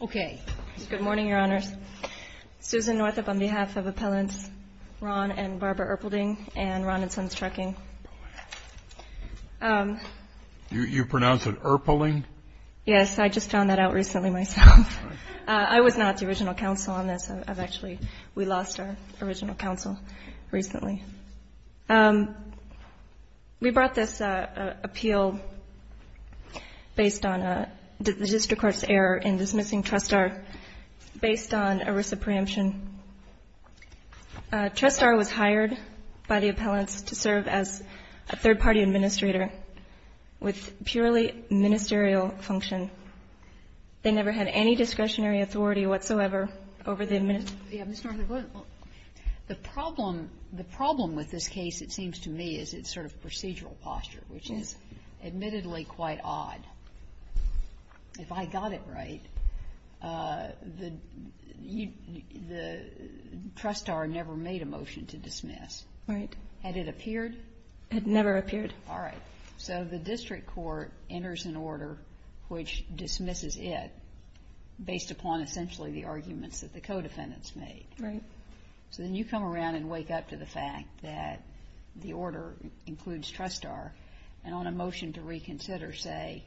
Okay. Good morning, Your Honors. Susan Northup on behalf of Appellants Ron and Barbara ERPELDING and Ron and Sons Trucking. You pronounce it ERPELDING? Yes, I just found that out recently myself. I was not the original counsel on this. I've actually, we lost our original counsel recently. We brought this appeal based on the district court's error in dismissing TRUST-R based on ERISA preemption. TRUST-R was hired by the appellants to serve as a third-party administrator with purely ministerial function. And they never had any discretionary authority whatsoever over the administration. Yeah. Ms. Northup, go ahead. The problem, the problem with this case, it seems to me, is its sort of procedural posture, which is admittedly quite odd. If I got it right, the TRUST-R never made a motion to dismiss. Right. Had it appeared? It never appeared. All right. So the district court enters an order which dismisses it based upon essentially the arguments that the co-defendants made. Right. So then you come around and wake up to the fact that the order includes TRUST-R and on a motion to reconsider say,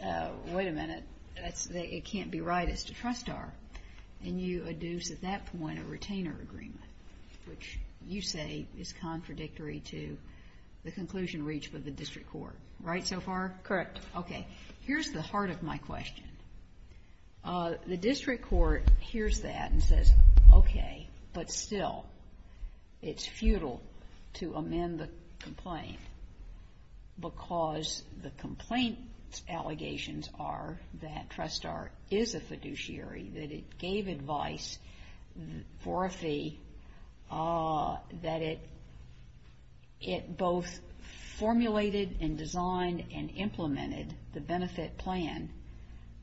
wait a minute, it can't be right, it's to TRUST-R. And you adduce at that point a retainer agreement, which you say is contradictory to the conclusion reached by the district court. Right so far? Correct. Okay. Here's the heart of my question. The district court hears that and says, okay, but still, it's futile to amend the complaint because the complaint's allegations are that TRUST-R is a fiduciary, that it gave advice for a fee, that it both formulated and designed and implemented the benefit plan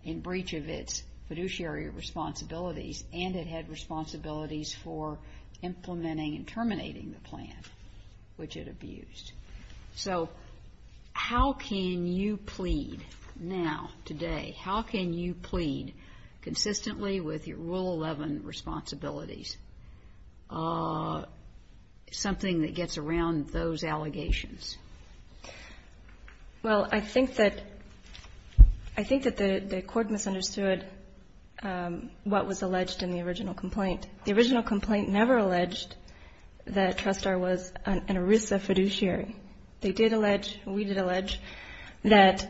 in breach of its fiduciary responsibilities and it had responsibilities for implementing and terminating the plan, which it abused. So how can you plead now, today, how can you plead consistently with your Rule 11 responsibilities something that gets around those allegations? Well, I think that the court misunderstood what was alleged in the original complaint. The original complaint never alleged that TRUST-R was an ERISA fiduciary. They did allege, we did allege, that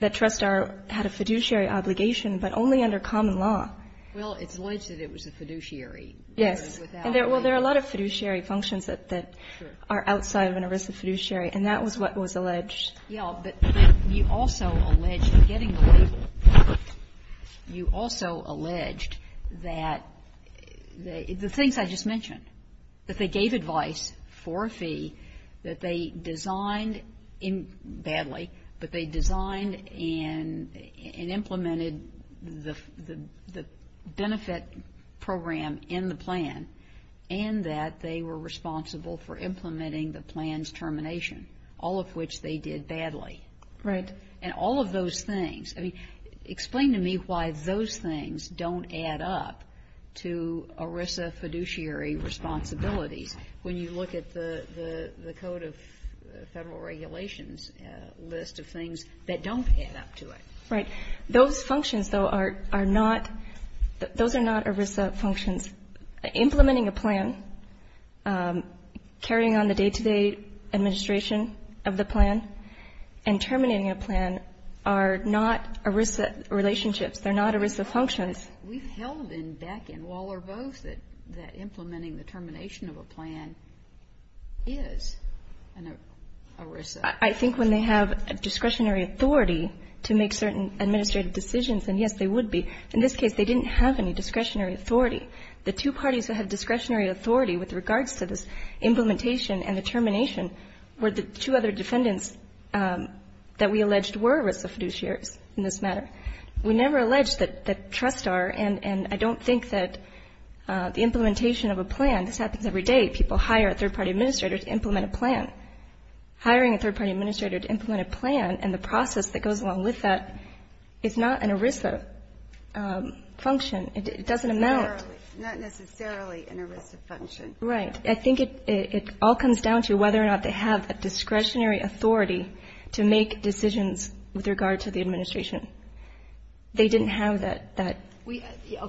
TRUST-R had a fiduciary obligation, but only under common law. Well, it's alleged that it was a fiduciary. Yes. And without a fee. Well, there are a lot of fiduciary functions that are outside of an ERISA fiduciary, and that was what was alleged. Yes, but you also alleged in getting the label. You also alleged that the things I just mentioned, that they gave advice for a fee, that they designed badly, but they designed and implemented the benefit program in the plan, and that they were responsible for implementing the plan's termination, all of which they did badly. Right. And all of those things, I mean, explain to me why those things don't add up to ERISA fiduciary responsibilities when you look at the Code of Federal Regulations list of things that don't add up to it. Right. Those functions, though, are not, those are not ERISA functions. Implementing a plan, carrying on the day-to-day administration of the plan, and terminating a plan are not ERISA relationships. They're not ERISA functions. We've held in Beck and Waller both that implementing the termination of a plan is an ERISA. I think when they have discretionary authority to make certain administrative decisions, and, yes, they would be, in this case they didn't have any discretionary authority. The two parties that had discretionary authority with regards to this implementation and the termination were the two other defendants that we alleged were ERISA fiduciaries in this matter. We never alleged that trust are, and I don't think that the implementation of a plan, this happens every day, hiring a third-party administrator to implement a plan and the process that goes along with that is not an ERISA function. It doesn't amount. Not necessarily an ERISA function. Right. I think it all comes down to whether or not they have a discretionary authority to make decisions with regard to the administration. They didn't have that discretionary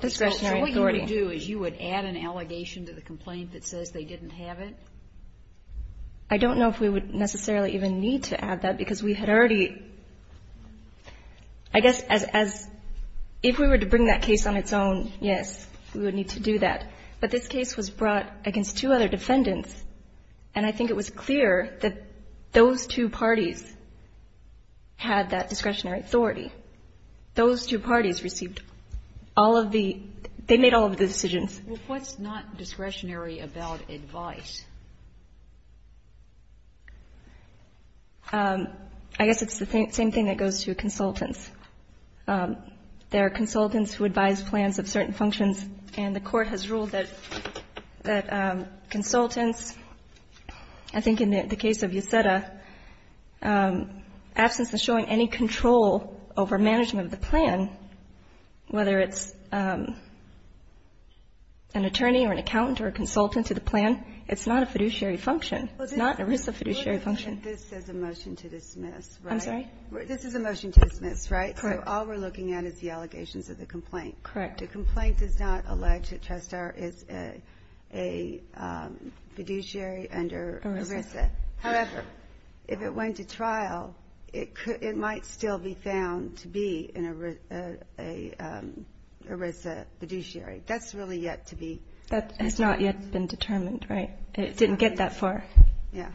authority. So what you would do is you would add an allegation to the complaint that says they didn't have it? I don't know if we would necessarily even need to add that, because we had already, I guess, as, if we were to bring that case on its own, yes, we would need to do that. But this case was brought against two other defendants, and I think it was clear that those two parties had that discretionary authority. Those two parties received all of the, they made all of the decisions. Well, what's not discretionary about advice? I guess it's the same thing that goes to consultants. There are consultants who advise plans of certain functions, and the Court has ruled that consultants, I think in the case of Yeseda, absence of showing any control over management of the plan, whether it's an attorney or an accountant or a consultant to the plan, it's not a fiduciary function. It's not an ERISA fiduciary function. This is a motion to dismiss, right? I'm sorry? This is a motion to dismiss, right? Correct. So all we're looking at is the allegations of the complaint. Correct. The complaint does not allege that Trestar is a fiduciary under ERISA. ERISA. However, if it went to trial, it might still be found to be an ERISA fiduciary. That's really yet to be determined. That has not yet been determined, right? It didn't get that far. Yeah.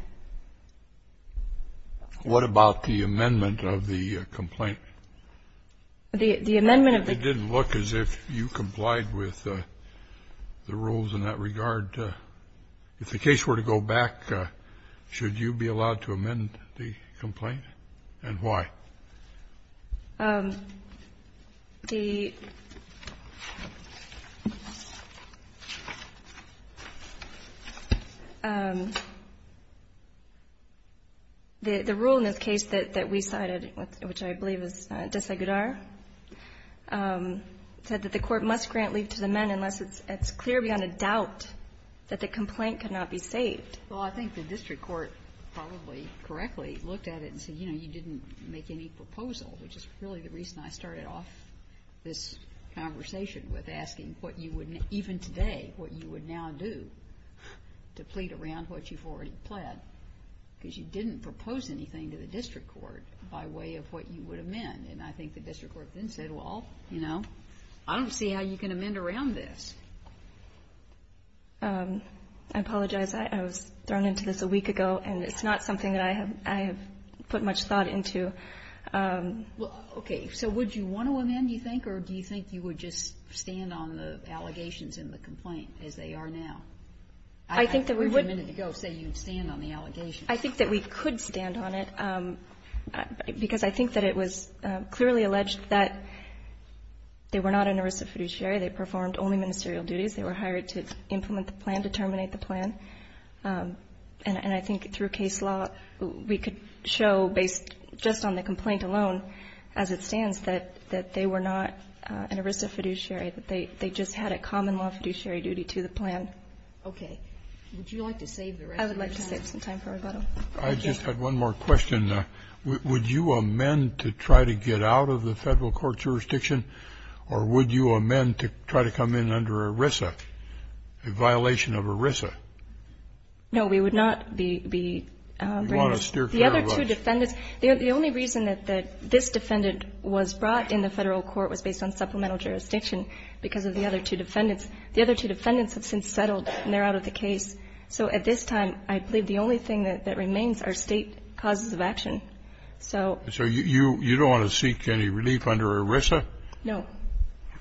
What about the amendment of the complaint? The amendment of the complaint? It didn't look as if you complied with the rules in that regard. If the case were to go back, should you be allowed to amend the complaint? And why? The rule in this case that we cited, which I believe is Desegudar, said that the complaint could not be saved. Well, I think the district court probably correctly looked at it and said, you know, you didn't make any proposal, which is really the reason I started off this conversation with asking what you would, even today, what you would now do to plead around what you've already pled, because you didn't propose anything to the district court by way of what you would amend. And I think the district court then said, well, you know, I don't see how you can amend around this. I apologize. I was thrown into this a week ago, and it's not something that I have put much thought into. Well, okay. So would you want to amend, do you think, or do you think you would just stand on the allegations in the complaint as they are now? I think that we would. I heard you a minute ago say you would stand on the allegations. I think that we could stand on it, because I think that it was clearly alleged that they were not an ERISA fiduciary. They performed only ministerial duties. They were hired to implement the plan, to terminate the plan. And I think through case law, we could show based just on the complaint alone, as it stands, that they were not an ERISA fiduciary, that they just had a common law fiduciary duty to the plan. Okay. Would you like to save the rest of your time? I would like to save some time for rebuttal. I just had one more question. Would you amend to try to get out of the Federal court jurisdiction, or would you amend to try to come in under ERISA, a violation of ERISA? No, we would not be bringing this. We want to steer clear of us. The other two defendants, the only reason that this defendant was brought in the Federal court was based on supplemental jurisdiction because of the other two defendants. The other two defendants have since settled, and they're out of the case. So at this time, I believe the only thing that remains are State causes of action. So you don't want to seek any relief under ERISA? No.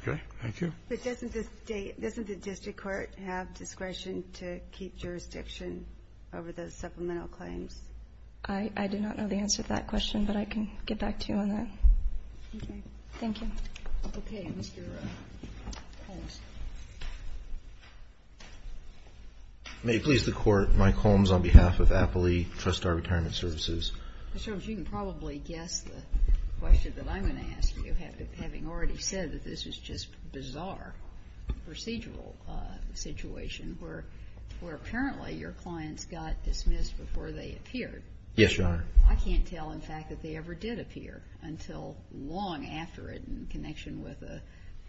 Okay. Thank you. But doesn't the State, doesn't the district court have discretion to keep jurisdiction over those supplemental claims? I do not know the answer to that question, but I can get back to you on that. Okay. Thank you. Okay. Mr. Holmes. May it please the Court. Mike Holmes on behalf of Appley Trustar Retirement Services. Mr. Holmes, you can probably guess the question that I'm going to ask you, having already said that this was just a bizarre procedural situation where apparently your clients got dismissed before they appeared. Yes, Your Honor. I can't tell, in fact, that they ever did appear until long after it in connection with a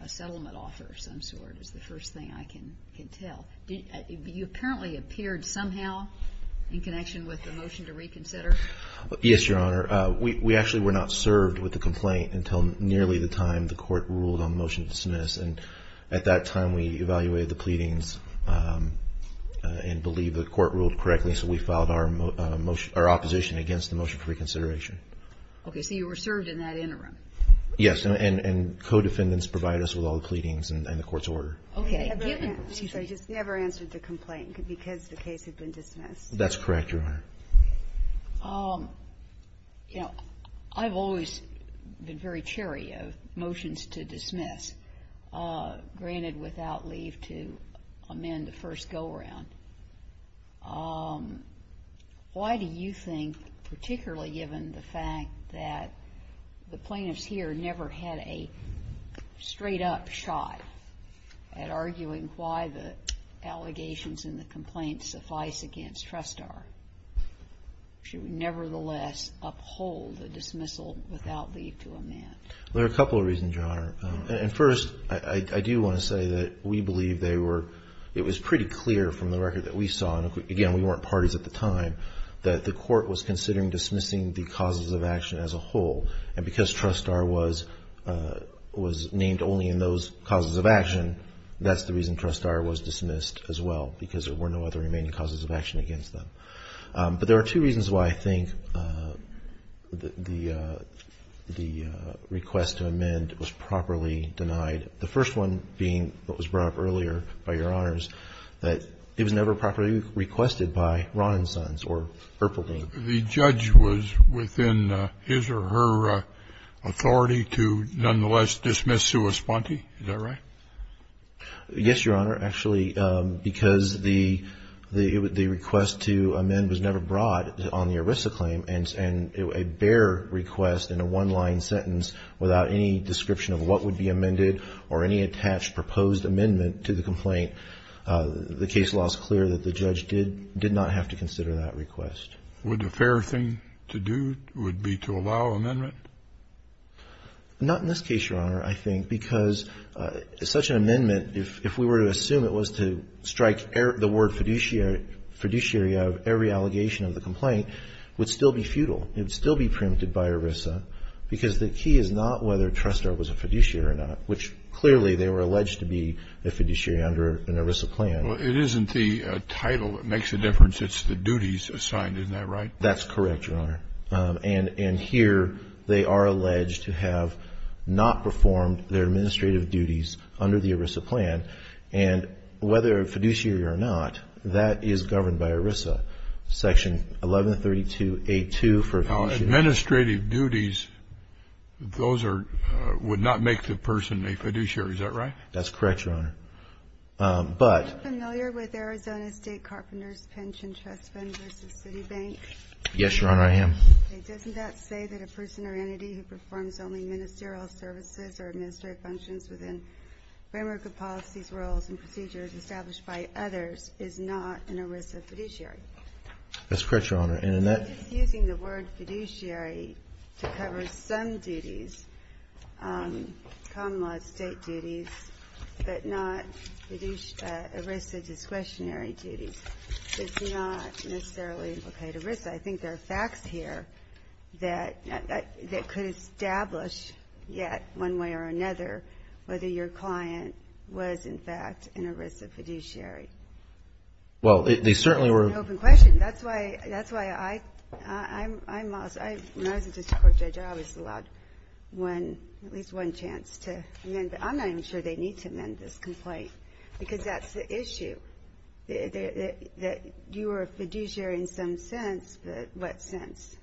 settlement offer of some sort is the first thing I can tell. You apparently appeared somehow in connection with the motion to reconsider? Yes, Your Honor. We actually were not served with the complaint until nearly the time the court ruled on the motion to dismiss. And at that time, we evaluated the pleadings and believe the court ruled correctly, so we filed our opposition against the motion for reconsideration. Okay. So you were served in that interim? Yes, and co-defendants provide us with all the pleadings and the court's order. Okay. So you just never answered the complaint because the case had been dismissed? That's correct, Your Honor. You know, I've always been very cherry of motions to dismiss, granted without leave to amend the first go-around. Why do you think, particularly given the fact that the plaintiffs here never had a straight-up shot at arguing why the allegations in the complaint suffice against Tristar, should we nevertheless uphold the dismissal without leave to amend? And first, I do want to say that we believe they were, it was pretty clear from the record that we saw, and again, we weren't parties at the time, that the court was considering dismissing the causes of action as a whole. And because Tristar was named only in those causes of action, that's the reason Tristar was dismissed as well, because there were no other remaining causes of action against them. But there are two reasons why I think the request to amend was properly denied. The first one being what was brought up earlier by Your Honors, that it was never properly requested by Ron and Sons or Herpelding. The judge was within his or her authority to nonetheless dismiss Sue Esponti. Is that right? Yes, Your Honor. Actually, because the request to amend was never brought on the ERISA claim, and a bare request in a one-line sentence without any description of what would be amended or any attached proposed amendment to the complaint, the case law is clear that the judge did not have to consider that request. Would a fair thing to do would be to allow amendment? Not in this case, Your Honor, I think, because such an amendment, if we were to assume it was to strike the word fiduciary out of every allegation of the complaint, would still be futile. It would still be preempted by ERISA, because the key is not whether Tristar was a fiduciary or not, which clearly they were alleged to be a fiduciary under an ERISA plan. Well, it isn't the title that makes a difference. It's the duties assigned. Isn't that right? That's correct, Your Honor. And here they are alleged to have not performed their administrative duties under the ERISA plan, and whether a fiduciary or not, that is governed by ERISA. Section 1132A-2 for fiduciary. Administrative duties, those would not make the person a fiduciary. Is that right? That's correct, Your Honor. Are you familiar with Arizona State Carpenters Pension Trust's Vendors of City Bank? Yes, Your Honor, I am. Okay, doesn't that say that a person or entity who performs only ministerial services or administrative functions within framework of policies, rules, and procedures established by others is not an ERISA fiduciary? That's correct, Your Honor. And in that ---- It's using the word fiduciary to cover some duties, common law, state duties, but not ERISA discretionary duties. It's not necessarily an ERISA. I think there are facts here that could establish yet one way or another whether your client was, in fact, an ERISA fiduciary. Well, they certainly were ---- That's an open question. That's why I'm also ---- when I was a district court judge, I was allowed at least one chance to amend. I'm not even sure they need to amend this complaint because that's the issue, that you were a fiduciary in some sense, but what sense?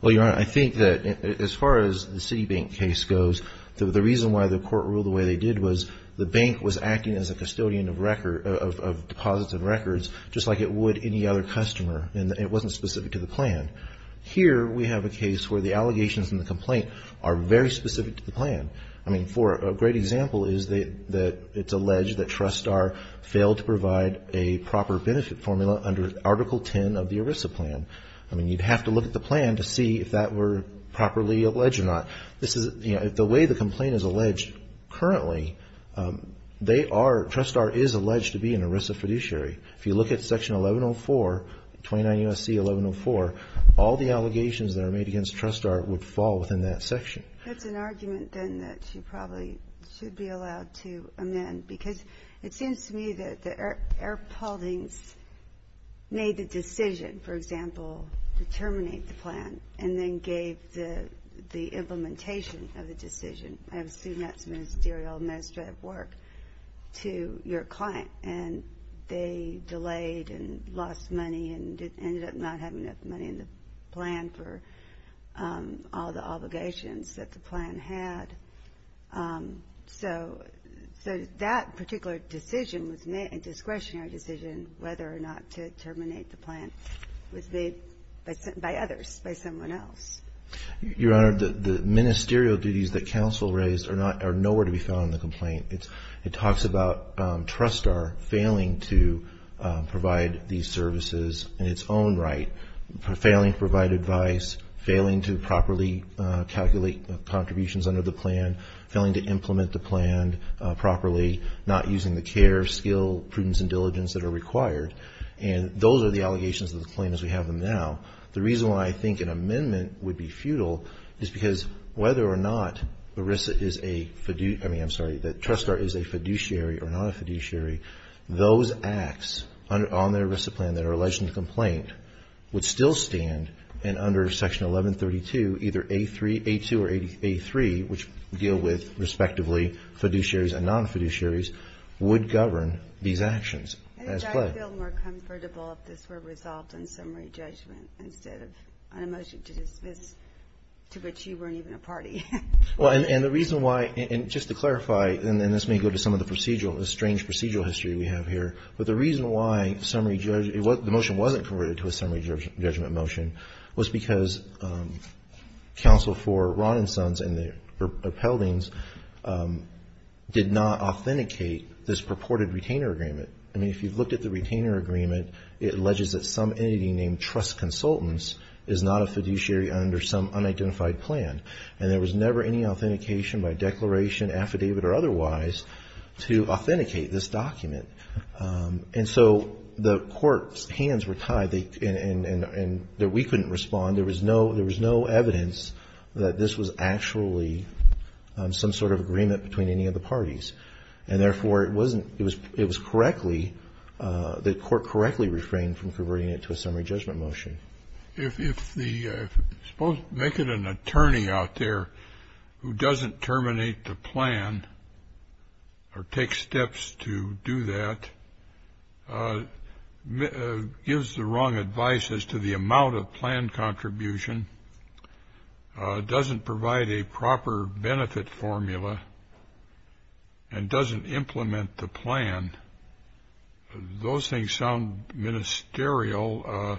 Well, Your Honor, I think that as far as the Citibank case goes, the reason why the court ruled the way they did was the bank was acting as a custodian of deposits and records just like it would any other customer, and it wasn't specific to the plan. Here we have a case where the allegations in the complaint are very specific to the plan. I mean, for a great example is that it's alleged that Trustar failed to provide a proper benefit formula under Article 10 of the ERISA plan. I mean, you'd have to look at the plan to see if that were properly alleged or not. This is, you know, the way the complaint is alleged currently, they are, Trustar is alleged to be an ERISA fiduciary. If you look at Section 1104, 29 U.S.C. 1104, all the allegations that are made against Trustar would fall within that section. That's an argument, then, that you probably should be allowed to amend because it seems to me that the Erpoldings made the decision, for example, to terminate the plan and then gave the implementation of the decision, I assume that's ministerial, administrative work, to your client, and they delayed and lost money and ended up not having enough money in the plan for all the obligations that the plan had. So that particular decision was made, a discretionary decision, whether or not to terminate the plan was made by others, by someone else. Your Honor, the ministerial duties that counsel raised are nowhere to be found in the complaint. It talks about Trustar failing to provide these services in its own right, failing to provide advice, failing to properly calculate contributions under the plan, failing to implement the plan properly, not using the care, skill, prudence, and diligence that are required, and those are the allegations of the claim as we have them now. The reason why I think an amendment would be futile is because whether or not ERISA is a fiduciary, I mean, I'm sorry, that Trustar is a fiduciary or not a fiduciary, those acts on the ERISA plan that are alleged in the complaint would still stand, and under Section 1132, either A2 or A3, which deal with, respectively, fiduciaries and non-fiduciaries, would govern these actions. I think I would feel more comfortable if this were resolved in summary judgment instead of a motion to dismiss, to which you weren't even a party. Well, and the reason why, and just to clarify, and this may go to some of the procedural, the strange procedural history we have here, but the reason why the motion wasn't converted to a summary judgment motion was because counsel for Ron and Sons and their appellatings did not authenticate this purported retainer agreement. I mean, if you've looked at the retainer agreement, it alleges that some entity named Trust Consultants is not a fiduciary under some unidentified plan, and there was never any authentication by declaration, affidavit, or otherwise to authenticate this document. And so the court's hands were tied, and we couldn't respond. There was no evidence that this was actually some sort of agreement between any of the parties. And therefore, it was correctly, the court correctly refrained from converting it to a summary judgment motion. If the, suppose, make it an attorney out there who doesn't terminate the plan or take steps to do that, gives the wrong advice as to the amount of plan contribution, doesn't provide a proper benefit formula, and doesn't implement the plan, those things sound ministerial.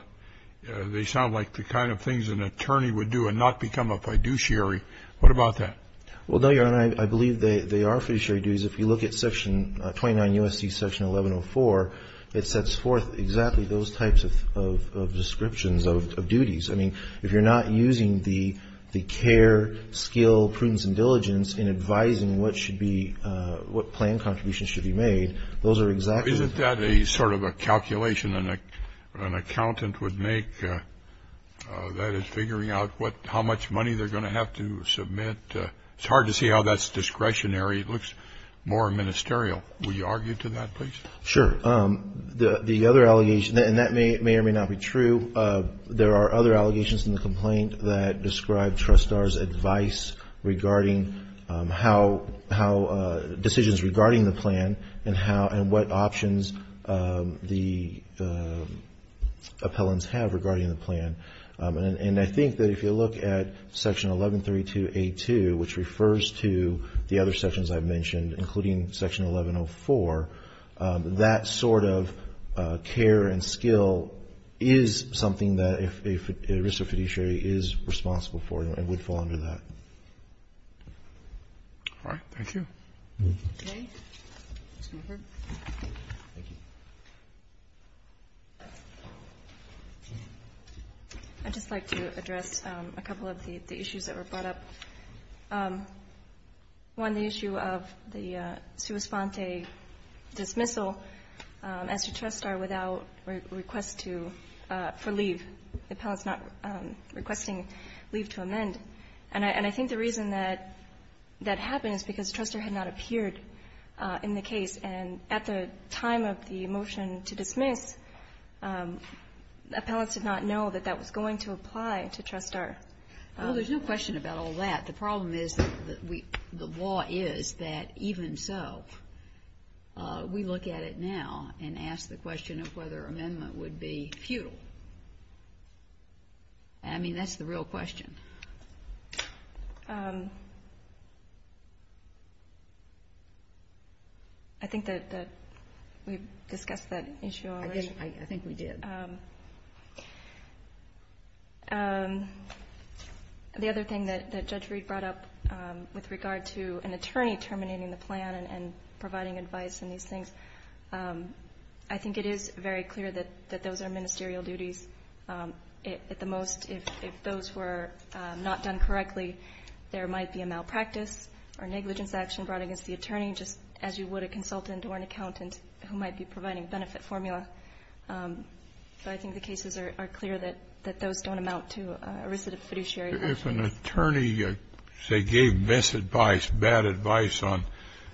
They sound like the kind of things an attorney would do and not become a fiduciary. What about that? Well, Your Honor, I believe they are fiduciary duties. If you look at Section 29 U.S.C. Section 1104, it sets forth exactly those types of descriptions of duties. I mean, if you're not using the care, skill, prudence, and diligence in advising what should be, what plan contributions should be made, those are exactly. Isn't that a sort of a calculation an accountant would make, that is figuring out how much money they're going to have to submit? It's hard to see how that's discretionary. It looks more ministerial. Will you argue to that, please? Sure. The other allegation, and that may or may not be true, there are other allegations in the complaint that describe TRUSTAR's advice regarding decisions regarding the plan and what options the appellants have regarding the plan. And I think that if you look at Section 1132A2, which refers to the other sections I've mentioned, including Section 1104, that sort of care and skill is something that a risk of fiduciary is responsible for and would fall under that. All right. Thank you. Okay. Ms. Winford. Thank you. I'd just like to address a couple of the issues that were brought up. One, the issue of the sua sponte dismissal as to TRUSTAR without request to leave, the appellants not requesting leave to amend. And I think the reason that that happened is because TRUSTAR had not appeared in the case. And at the time of the motion to dismiss, appellants did not know that that was going to apply to TRUSTAR. Well, there's no question about all that. The problem is that the law is that even so, we look at it now and ask the question of whether amendment would be futile. I mean, that's the real question. I think that we've discussed that issue already. I think we did. The other thing that Judge Reed brought up with regard to an attorney terminating the plan and providing advice on these things, I think it is very clear that those are ministerial duties. At the most, if those were not done correctly, there might be a malpractice or negligence action brought against the attorney, just as you would a consultant or an accountant who might be providing benefit formula. So I think the cases are clear that those don't amount to arrested fiduciary action. If an attorney, say, gave misadvice, bad advice on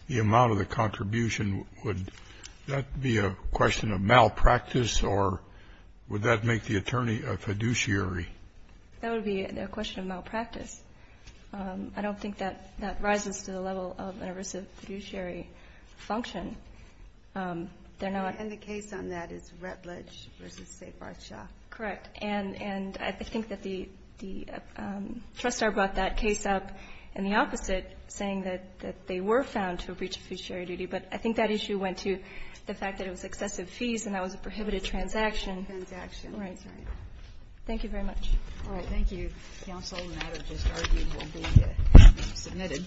the amount of the contribution, would that be a question of malpractice or would that make the attorney a fiduciary? That would be a question of malpractice. I don't think that that rises to the level of an arrested fiduciary function. They're not. And the case on that is Rutledge v. State Barthshaw. Correct. And I think that the trustor brought that case up in the opposite, saying that they were found to have breached a fiduciary duty. But I think that issue went to the fact that it was excessive fees and that was a prohibited transaction. Transaction. Right. Thank you very much. All right. Thank you, counsel. The matter just argued will be submitted.